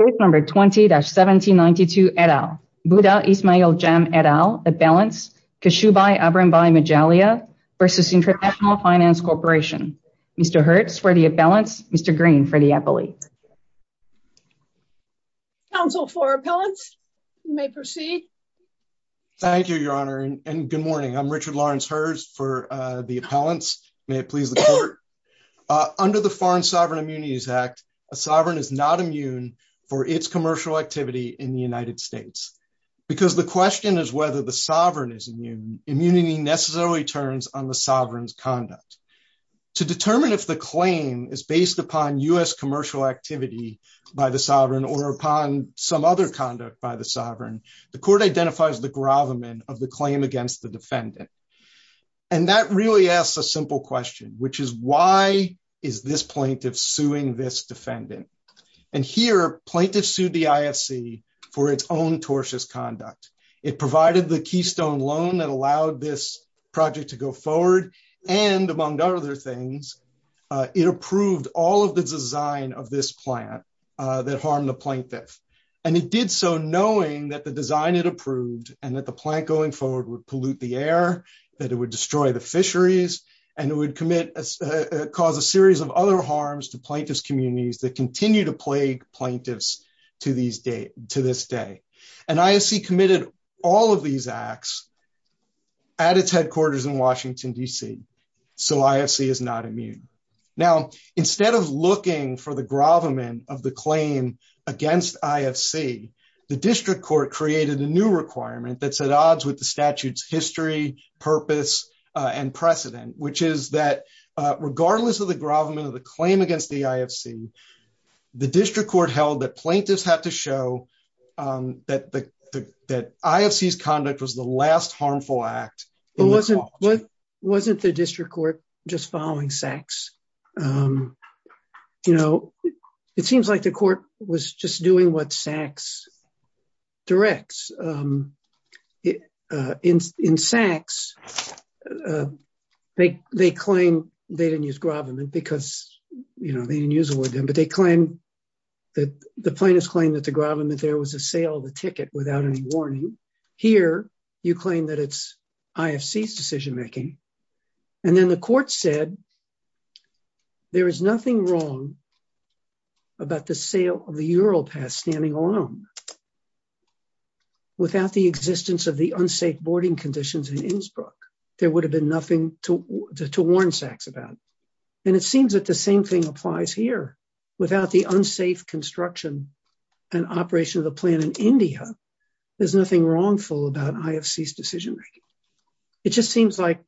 20-1792 et al., Buddha Ismail Jam et al., Appellants, Kashubai Abrambai Majalia v. International Finance Corporation. Mr. Hertz for the appellants, Mr. Green for the appellate. Council for Appellants, you may proceed. Thank you, Your Honor, and good morning. I'm Richard Lawrence Hertz for the appellants. May it please the Court. Under the Foreign Sovereign Immunities Act, a sovereign is not immune for its commercial activity in the United States, because the question is whether the sovereign is immune. Immunity necessarily turns on the sovereign's conduct. To determine if the claim is based upon U.S. commercial activity by the sovereign or upon some other conduct by the sovereign, the Court identifies the gravamen of the claim against the defendant. And that really asks a simple question, which is why is this plaintiff suing this defendant? And here, plaintiff sued the IFC for its own tortious conduct. It provided the keystone loan that allowed this project to go forward, and among other things, it approved all of the design of this plant that harmed the plaintiff. And it did so knowing that the design it approved and that the plant going forward would pollute the air, that it would destroy the fisheries, and it would cause a series of other harms to plaintiff's communities that continue to plague plaintiffs to this day. And IFC committed all of these acts at its headquarters in Washington, D.C., so IFC is not immune. Now, instead of looking for the gravamen of the claim against IFC, the district court created a new requirement that's at odds with the statute's history, purpose, and precedent, which is that regardless of the gravamen of the claim against the IFC, the district court held that plaintiffs had to show that IFC's conduct was the last harmful act. Well, wasn't the district court just following Sachs? You know, it seems like the court was just doing what Sachs directs. In Sachs, they claim they didn't use gravamen because, you know, they didn't use it with them, but they claim that the plaintiffs claim that the gravamen there was a sale of the ticket without any warning. Here, you claim that it's IFC's decision making. And then the court said there is nothing wrong about the sale of the Ural Pass standing alone without the existence of the unsafe boarding conditions in Innsbruck. There would have been nothing to warn Sachs about. And it seems that the same thing applies here. Without the unsafe construction and operation of the plan in India, there's nothing wrongful about IFC's decision making. It just seems like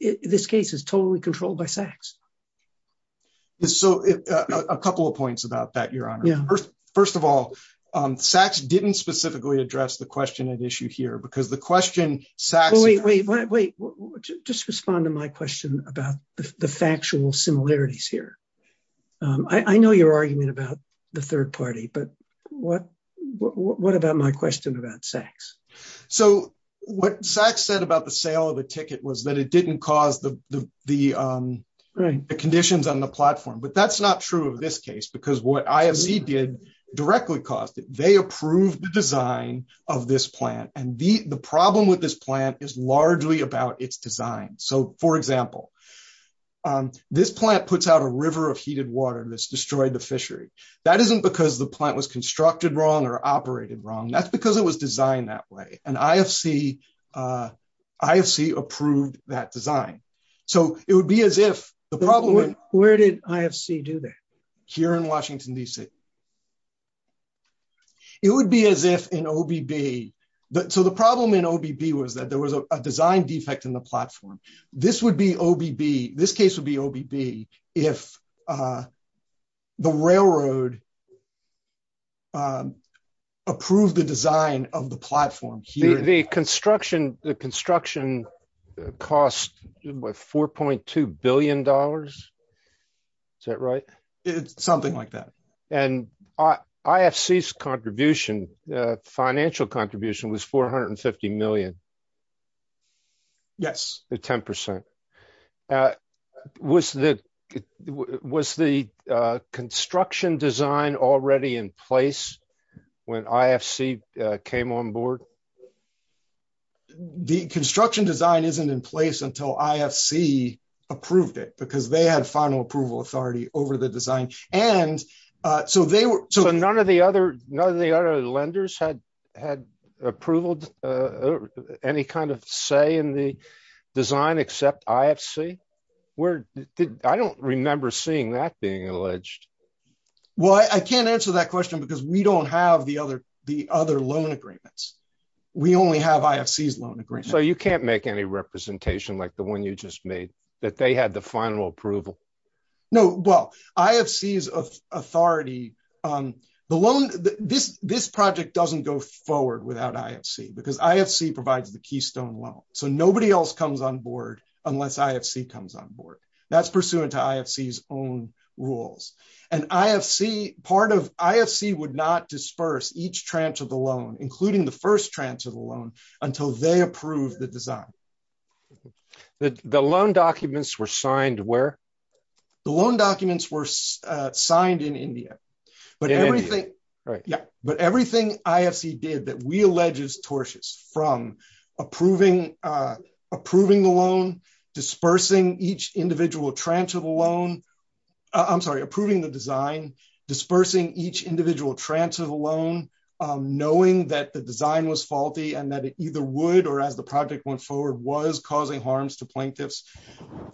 this case is totally controlled by Sachs. So a couple of points about that, Your Honor. First of all, Sachs didn't specifically address the question at issue here because the question, Sachs- Wait, wait, wait, wait. Just respond to my question about the factual similarities here. I know your argument about the third party, but what about my question about Sachs? So what Sachs said about the sale of the ticket was that it didn't cause the conditions on the platform. But that's not true of this case because what IFC did directly caused it. They approved the design of this plant. And the problem with this plant is largely about its design. So, for example, this plant puts out a river of heated water that's destroyed the fishery. That isn't because the plant was constructed wrong or operated wrong. That's because it was designed that way. And IFC approved that design. So it would be as if the problem- Where did IFC do that? Here in Washington, D.C. It would be as if in OBB, so the problem in OBB was that there was a design defect in the platform. This would be OBB. This case would be OBB if the railroad approved the design of the platform here. The construction cost $4.2 billion. Is that right? It's something like that. And IFC's contribution, financial contribution, was $450 million. Yes. 10%. Was the construction design already in place when IFC came on board? The construction design isn't in place until IFC approved it because they had final approval authority over the design. And so they were- None of the other lenders had approved any kind of say in the design except IFC? I don't remember seeing that being alleged. Well, I can't answer that question because we don't have the other loan agreements. We only have IFC's loan agreements. So you can't make any representation like the one you just made, that they had the final approval? No. Well, IFC's authority- This project doesn't go forward without IFC because IFC provides the keystone loan. So nobody else comes on board unless IFC comes on board. That's pursuant to IFC's own rules. And IFC would not disperse each tranche of the loan, including the first tranche of the loan, until they approved the design. The loan documents were signed where? The loan documents were signed in India, but everything- In India, right. Yeah. But everything IFC did that we allege is tortious from approving the loan, dispersing each individual tranche of the loan- I'm sorry, approving the design, dispersing each individual tranche of the loan, knowing that the design was faulty and that it either would or as the project went forward was causing harms to plaintiffs,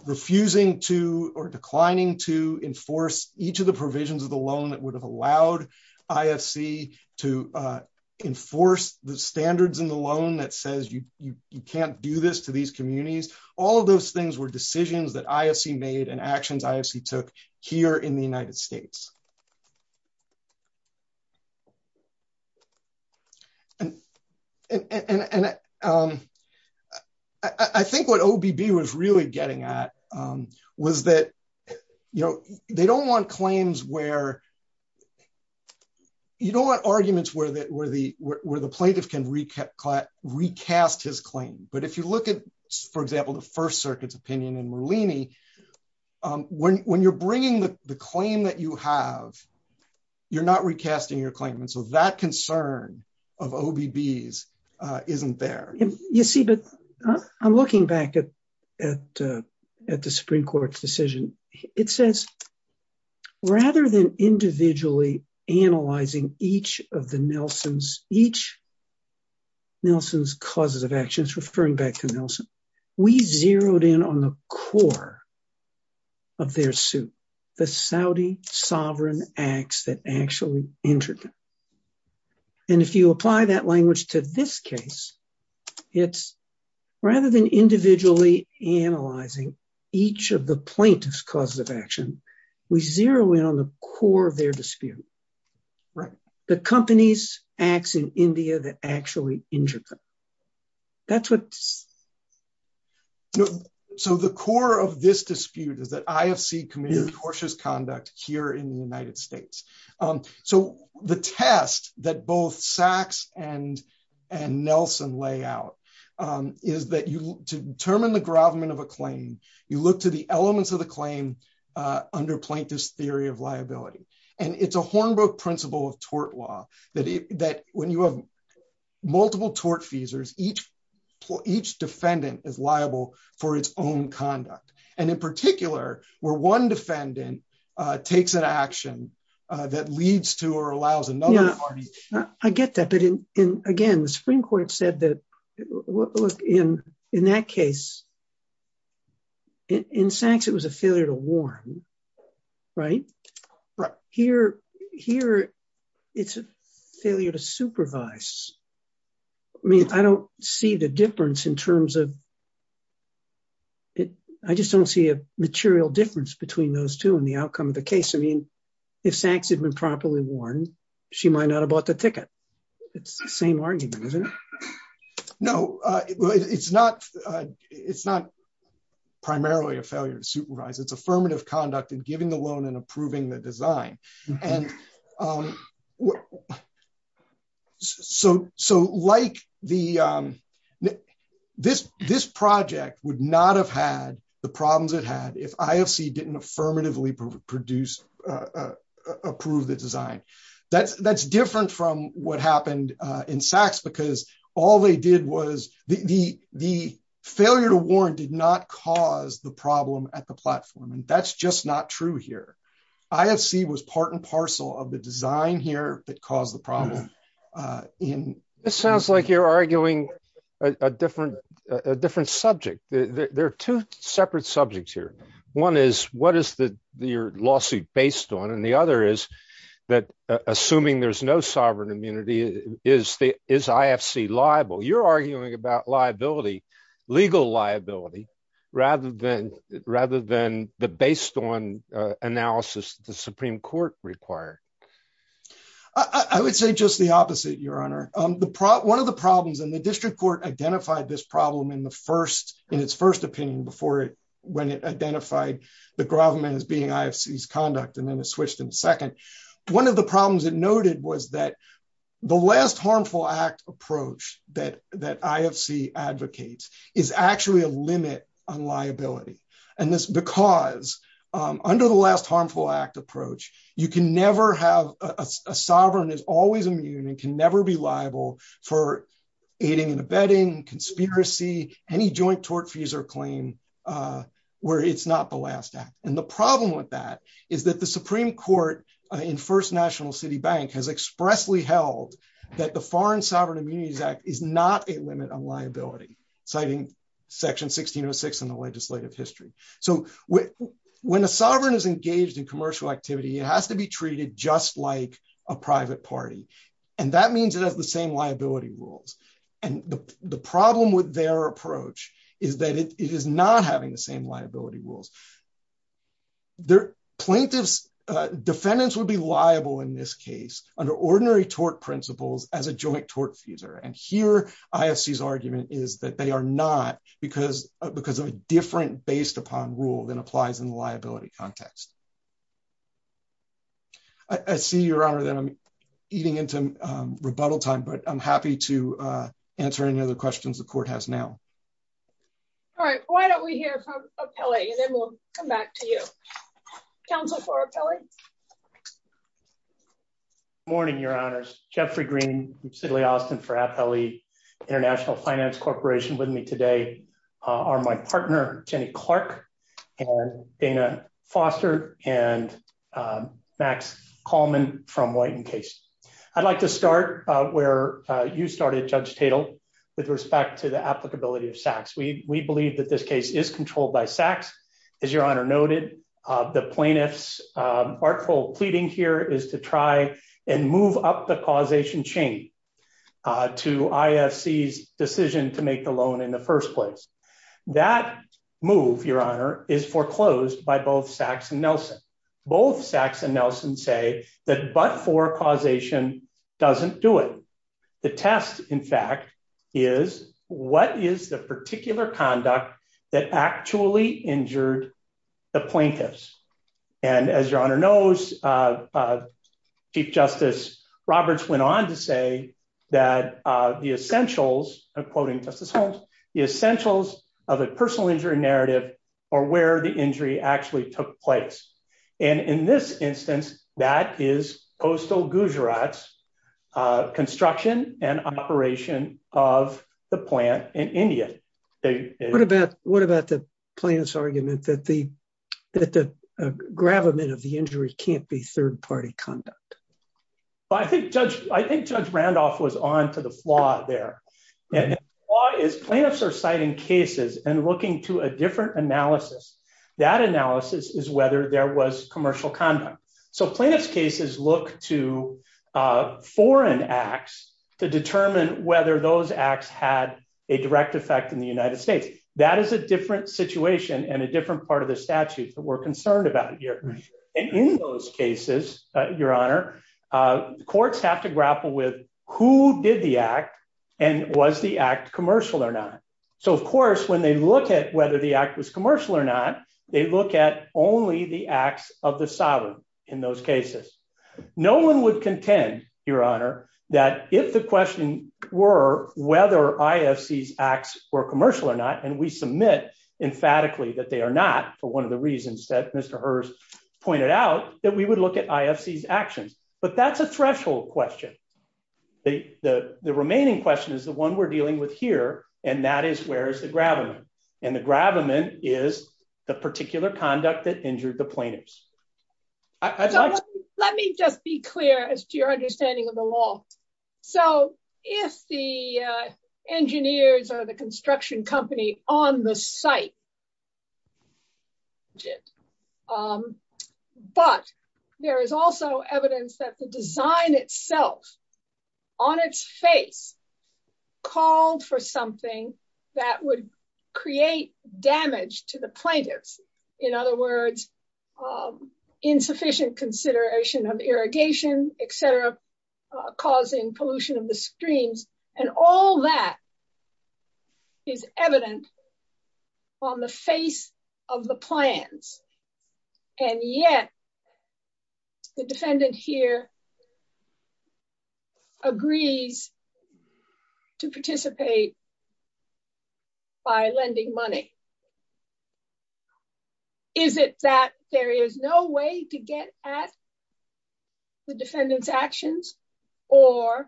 refusing to, or declining to enforce each of the provisions of the loan that would have allowed IFC to enforce the standards in the loan that says you can't do this to these communities. All of those things were decisions that IFC made and actions IFC took here in the United States. And I think what OBB was really getting at was that they don't want claims where- you don't want arguments where the plaintiff can recast his claim. But if you look at, for example, the First Circuit's opinion in Merlini, when you're you're not recasting your claimant. So that concern of OBB's isn't there. You see, but I'm looking back at the Supreme Court's decision. It says, rather than individually analyzing each of the Nelsons, each Nelson's causes of actions, referring back to Nelson, we zeroed in on the core of their suit, the Saudi sovereign acts that actually injured them. And if you apply that language to this case, it's rather than individually analyzing each of the plaintiff's causes of action, we zero in on the core of their dispute. Right. The company's acts in India that actually injured them. That's what- So the core of this dispute is that IFC committed cautious conduct here in the United States. So the test that both Sachs and Nelson lay out is that to determine the gravamen of a claim, you look to the elements of the claim under plaintiff's theory of liability. And it's a Hornbrook principle of tort law that when you have multiple tort feasors, each defendant is liable for its own conduct. And in particular, where one defendant takes an action that leads to or allows another party- I get that. But again, the Supreme Court said that, look, in that case, in Sachs, it was a failure to warn, right? Right. Here, it's a failure to supervise. I mean, I don't see the difference in terms of- I just don't see a material difference between those two in the outcome of the case. I mean, if Sachs had been properly warned, she might not have bought the ticket. It's the same argument, isn't it? No, it's not primarily a failure to supervise. It's affirmative conduct in giving the loan and approving the design. And so this project would not have had the problems it had if IFC didn't affirmatively approve the design. That's different from what happened in Sachs, because all they did was- the failure to warn did not cause the problem at the platform. And that's just not true here. IFC was part and parcel of the design here that caused the problem. It sounds like you're arguing a different subject. There are two separate subjects here. One is, what is your lawsuit based on? And the other is that, assuming there's no sovereign immunity, is IFC liable? You're arguing about liability, legal liability, rather than the based on analysis the Supreme Court required. I would say just the opposite, Your Honor. One of the problems, and the district court identified this problem in its first opinion when it identified the Groverman as being IFC's conduct, and then it switched in the second. One of the problems it noted was that the last harmful act approach that IFC advocates is actually a limit on liability. And this is because, under the last harmful act approach, you can never have- a sovereign is always immune and can never be liable for aiding and abetting, conspiracy, any joint tort, fees, or claim where it's not the last act. The problem with that is that the Supreme Court in First National City Bank has expressly held that the Foreign Sovereign Immunities Act is not a limit on liability, citing section 1606 in the legislative history. When a sovereign is engaged in commercial activity, it has to be treated just like a private party, and that means it has the same liability rules. The problem with their approach is that it is not having the same liability rules. The plaintiff's defendants would be liable in this case under ordinary tort principles as a joint tort feeser, and here IFC's argument is that they are not because of a different based-upon rule than applies in the liability context. I see, Your Honor, that I'm eating into rebuttal time, but I'm happy to answer any other questions the Court has now. All right, why don't we hear from Apelli, and then we'll come back to you. Counsel for Apelli? Good morning, Your Honors. Jeffrey Green from Sidley Austin for Apelli International Finance Corporation with me today are my partner Jenny Clark and Dana Foster and Max Kalman from White & Case. I'd like to start where you started, Judge Tatel, with respect to the applicability of SACS. We believe that this case is controlled by SACS, as Your Honor noted. The plaintiff's artful pleading here is to try and move up the causation chain to IFC's decision to make the loan in the first place. That move, Your Honor, is foreclosed by both SACS and Nelson. Both SACS and Nelson say that but-for causation doesn't do it. The test, in fact, is what is the particular conduct that actually injured the plaintiffs? And as Your Honor knows, Chief Justice Roberts went on to say that the essentials, I'm quoting Justice Holmes, the essentials of a personal injury narrative are where the injury actually took place. And in this instance, that is Postal Gujarat's construction and operation of the plant in India. What about the plaintiff's argument that the gravamen of the injury can't be third-party conduct? I think Judge Randolph was on to the flaw there. And the flaw is plaintiffs are citing cases and looking to a different analysis. That analysis is whether there was commercial conduct. So plaintiff's cases look to foreign acts to determine whether those acts had a direct effect in the United States. That is a different situation and a different part of the statute that we're concerned about here. And in those cases, Your Honor, courts have to grapple with who did the act and was the act commercial or not. So of course, when they look at whether the act was commercial or not, they look at only the acts of the sovereign in those cases. No one would contend, Your Honor, that if the question were whether IFC's acts were commercial or not, and we submit emphatically that they are not for one of the reasons that Mr. Hurst pointed out, that we would look at IFC's actions. But that's a threshold question. The remaining question is the one we're dealing with here. And that is, where is the gravamen? And the gravamen is the particular conduct that injured the plaintiffs. So let me just be clear as to your understanding of the law. So if the engineers or the construction company on the site, but there is also evidence that the design itself on its face called for something that would create damage to the plaintiffs. In other words, insufficient consideration of irrigation, et cetera, causing pollution of the streams. And all that is evident on the face of the plans. And yet, the defendant here agrees to participate by lending money. Is it that there is no way to get at the defendant's actions? Or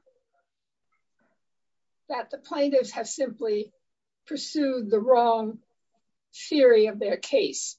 that the plaintiffs have simply pursued the wrong theory of their case?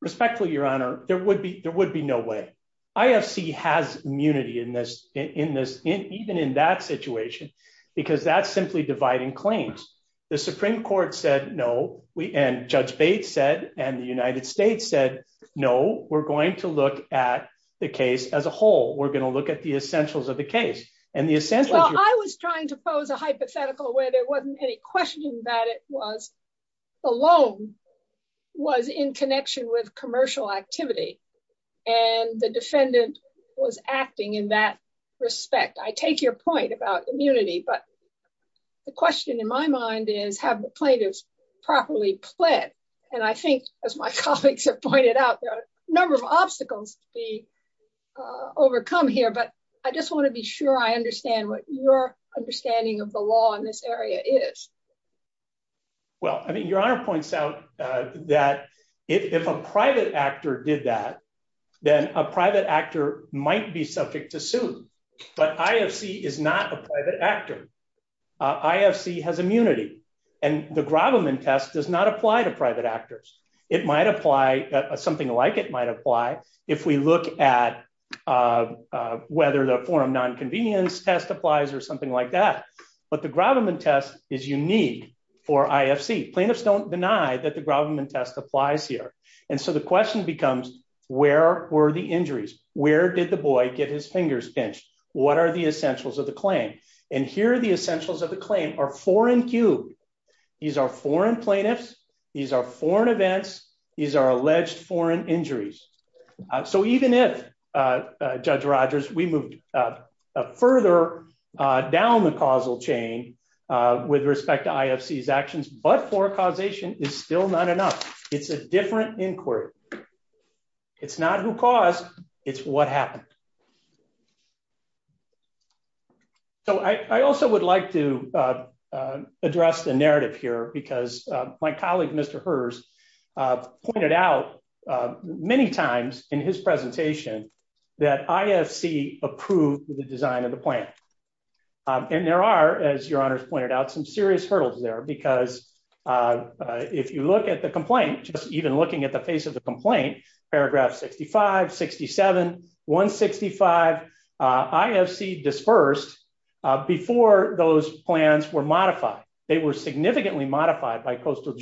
Respectfully, Your Honor, there would be no way. IFC has immunity in this, even in that situation, because that's simply dividing claims. The Supreme Court said no, and Judge Bates said, and the United States said, no, we're going to look at the case as a whole. We're going to look at the essentials of the case. And the essentials- Well, I was trying to pose a hypothetical where there wasn't any question that it was the loan was in connection with commercial activity. And the defendant was acting in that respect. I take your point about immunity. But the question in my mind is, have the plaintiffs properly pled? And I think, as my colleagues have pointed out, there are a number of obstacles to be overcome here. But I just want to be sure I understand what your understanding of the law in this area is. Well, I mean, Your Honor points out that if a private actor did that, then a private actor might be subject to suit. But IFC is not a private actor. IFC has immunity. And the Grobman test does not apply to private actors. It might apply, something like it might apply if we look at whether the forum nonconvenience test applies or something like that. But the Grobman test is unique for IFC. Plaintiffs don't deny that the Grobman test applies here. And so the question becomes, where were the injuries? Where did the boy get his fingers pinched? What are the essentials of the claim? And here, the essentials of the claim are foreign cube. These are foreign plaintiffs. These are foreign events. These are alleged foreign injuries. So even if, Judge Rogers, we moved further down the causal chain with respect to IFC's actions, but forecausation is still not enough. It's a different inquiry. It's not who caused. It's what happened. So I also would like to address the narrative here because my colleague, Mr. Herz, pointed out many times in his presentation that IFC approved the design of the plant. And there are, as your honors pointed out, some serious hurdles there because if you look at the complaint, just even looking at the face of the complaint, paragraph 65, 67, 165, IFC dispersed before those plans were modified. They were significantly modified by Coastal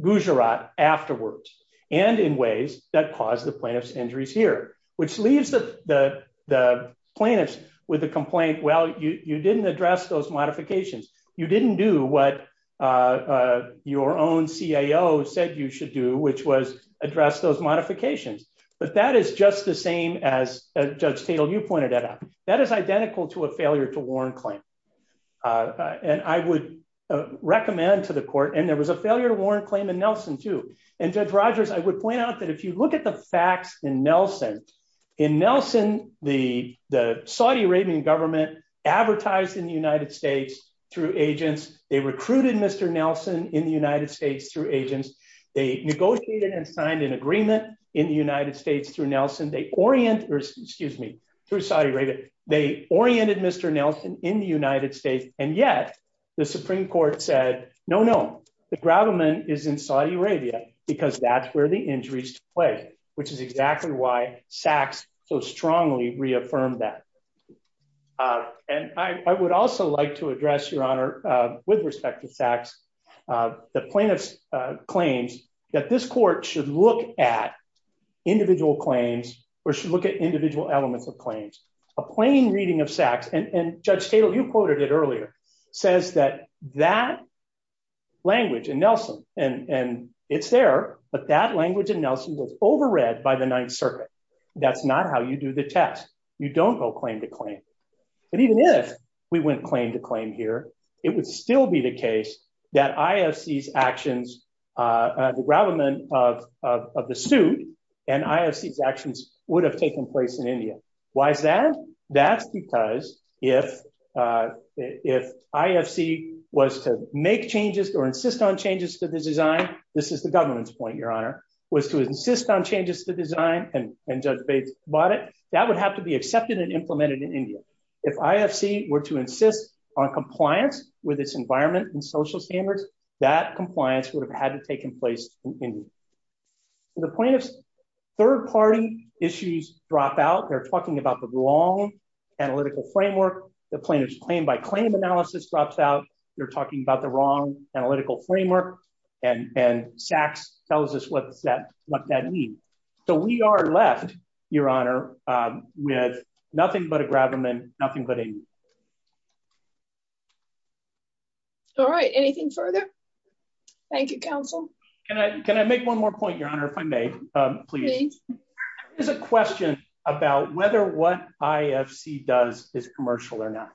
Gujarat afterwards and in ways that caused the plaintiff's injuries here, which leaves the plaintiffs with a complaint. Well, you didn't address those modifications. You didn't do what your own CIO said you should do, which was address those modifications. But that is just the same as Judge Tatel, you pointed that out. That is identical to a failure to warrant claim. And I would recommend to the court, and there was a failure to warrant claim in Nelson too. And Judge Rogers, I would point out that if you look at the facts in Nelson, in Nelson, the Saudi Arabian government advertised in the United States through agents. They recruited Mr. Nelson in the United States through agents. They negotiated and signed an agreement in the United States through Nelson. They oriented, excuse me, through Saudi Arabia. They oriented Mr. Nelson in the United States. And yet the Supreme Court said, no, no. The grabberment is in Saudi Arabia because that's where the injuries took place, which is exactly why Sachs so strongly reaffirmed that. And I would also like to address, Your Honor, with respect to Sachs, the plaintiff's claims that this court should look at individual claims or should look at individual elements of claims. A plain reading of Sachs, and Judge Tatel, you quoted it earlier, says that that language in Nelson, and it's there, but that language in Nelson was overread by the Ninth Circuit. That's not how you do the test. You don't go claim to claim. But even if we went claim to claim here, it would still be the case that IFC's actions, the grabberment of the suit and IFC's actions would have taken place in India. Why is that? That's because if IFC was to make changes or insist on changes to the design, this is the government's point, Your Honor, was to insist on changes to the design and Judge Bates bought it, that would have to be accepted and implemented in India. If IFC were to insist on compliance with its environment and social standards, that compliance would have had to take place in India. The plaintiff's third-party issues drop out. They're talking about the wrong analytical framework. The plaintiff's claim-by-claim analysis drops out. They're talking about the wrong analytical framework, and Sachs tells us what that means. We are left, Your Honor, with nothing but a grabberment, nothing but India. All right. Anything further? Thank you, counsel. Can I make one more point, Your Honor, if I may, please? Please. There's a question about whether what IFC does is commercial or not.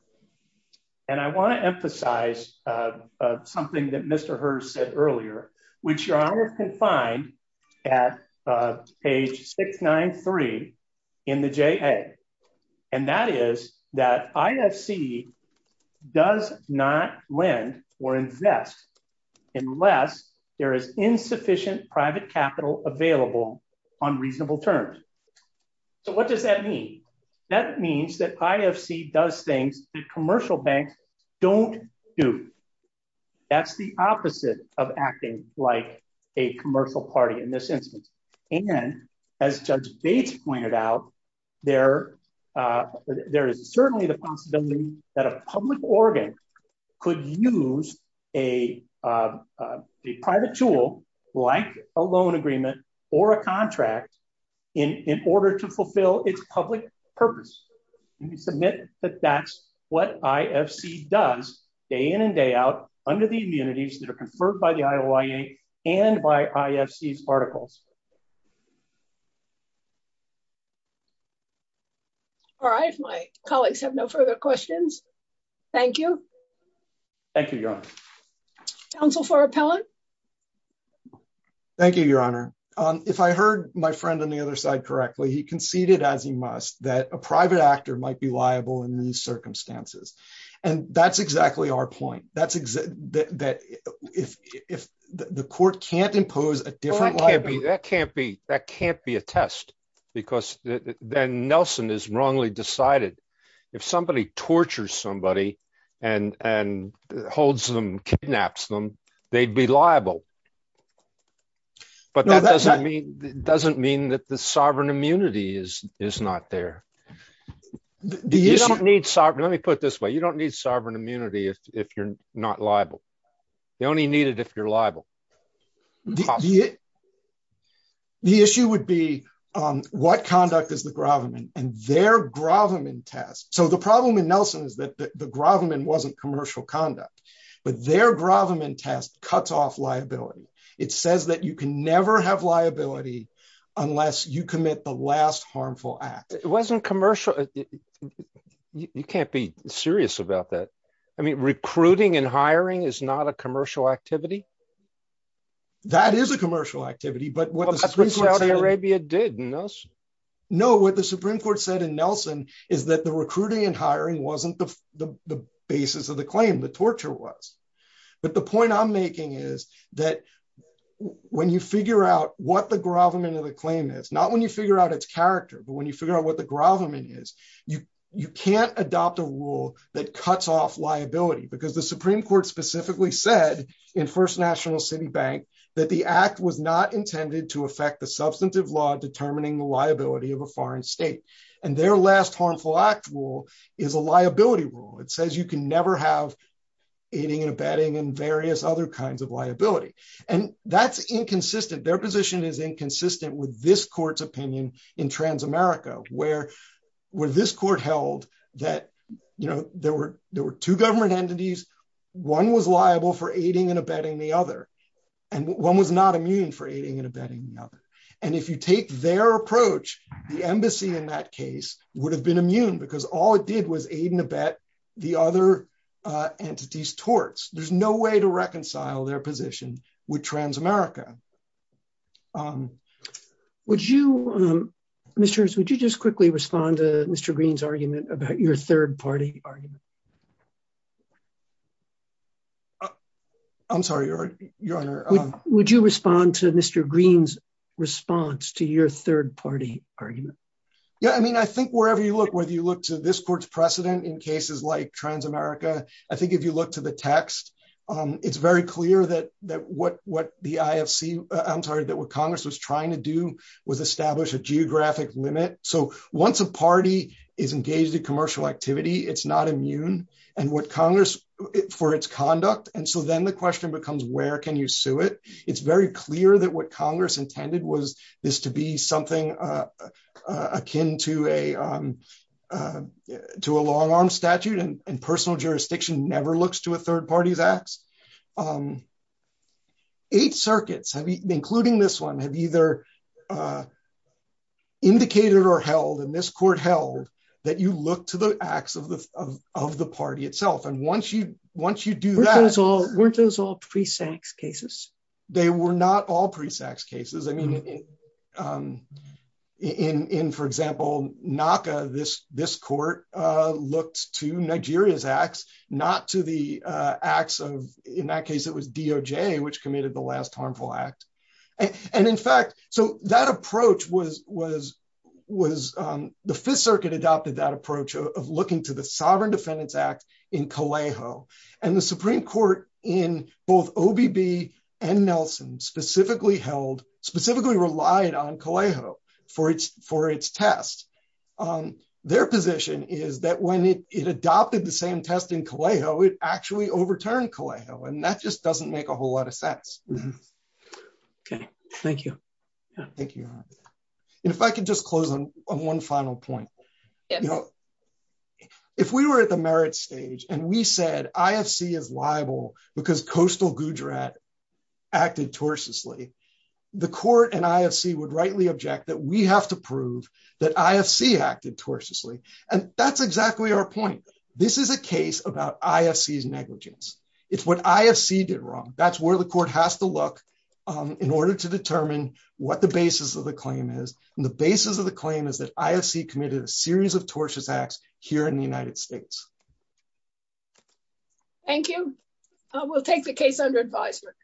I want to emphasize something that Mr. Hurst said earlier, which Your Honor can find at page 693 in the JA, and that is that IFC does not lend or invest unless there is insufficient private capital available on reasonable terms. So what does that mean? That means that IFC does things that commercial banks don't do. That's the opposite of acting like a commercial party in this instance. And as Judge Bates pointed out, there is certainly the possibility that a public organ could use a private tool, like a loan agreement or a contract, in order to fulfill its public purpose. And we submit that that's what IFC does day in and day out under the immunities that are conferred by the IOIA and by IFC's articles. All right. My colleagues have no further questions. Thank you. Thank you, Your Honor. Counsel for Appellant? Thank you, Your Honor. If I heard my friend on the other side correctly, he conceded, as he must, that a private actor might be liable in these circumstances. And that's exactly our point. That's that if the court can't impose a different liability. That can't be a test, because then Nelson is wrongly decided. If somebody tortures somebody and holds them, kidnaps them, they'd be liable. No, that doesn't mean that the sovereign immunity is not there. Let me put it this way. You don't need sovereign immunity if you're not liable. You only need it if you're liable. The issue would be, what conduct is the Graviman? And their Graviman test. So the problem in Nelson is that the Graviman wasn't commercial conduct. But their Graviman test cuts off liability. It says that you can never have liability unless you commit the last harmful act. It wasn't commercial. You can't be serious about that. I mean, recruiting and hiring is not a commercial activity. That is a commercial activity. But that's what Saudi Arabia did. No, what the Supreme Court said in Nelson is that the recruiting and hiring wasn't the basis of the claim. The torture was. But the point I'm making is that when you figure out what the Graviman of the claim is, not when you figure out its character, but when you figure out what the Graviman is, you can't adopt a rule that cuts off liability. Because the Supreme Court specifically said in First National City Bank that the act was not intended to affect the substantive law determining the liability of a foreign state. And their last harmful act rule is a liability rule. It says you can never have aiding and abetting and various other kinds of liability. And that's inconsistent. Their position is inconsistent with this court's opinion in Transamerica, where this court held that there were two government entities. One was liable for aiding and abetting the other. And one was not immune for aiding and abetting the other. And if you take their approach, the embassy in that case would have been immune because all it did was aid and abet the other entity's torts. There's no way to reconcile their position with Transamerica. Would you, Mr. Harris, would you just quickly respond to Mr. Green's argument about your third party argument? I'm sorry, Your Honor. Would you respond to Mr. Green's response to your third party argument? Yeah, I mean, I think wherever you look, whether you look to this court's precedent in cases like Transamerica, I think if you look to the text, it's very clear that what the IFC, I'm sorry, that what Congress was trying to do was establish a geographic limit. So once a party is engaged in commercial activity, it's not immune. And what Congress, for its conduct, and so then the question becomes, where can you sue it? It's very clear that what Congress intended was this to be something akin to a long arm statute and personal jurisdiction never looks to a third party's acts. Eight circuits, including this one, have either indicated or held, and this court held, that you look to the acts of the party itself. And once you do that... Weren't those all pre-Sax cases? They were not all pre-Sax cases. I mean, in, for example, NACA, this court looked to Nigeria's acts, not to the acts of, in that case, it was DOJ, which committed the last harmful act. And in fact, so that approach was, the Fifth Circuit adopted that approach of looking to the Sovereign Defendants Act in Calejo. And the Supreme Court in both OBB and Nelson specifically held, specifically relied on Calejo for its test. Their position is that when it adopted the same test in Calejo, it actually overturned Calejo, and that just doesn't make a whole lot of sense. Okay. Thank you. Thank you. And if I could just close on one final point. If we were at the merit stage and we said, IFC is liable because Coastal Gujarat acted tortuously, the court and IFC would rightly object that we have to prove that IFC acted tortuously. And that's exactly our point. This is a case about IFC's negligence. It's what IFC did wrong. That's where the court has to look in order to determine what the basis of the claim is. And the basis of the claim is that IFC committed a series of tortious acts here in the United States. Thank you. We'll take the case under advisement.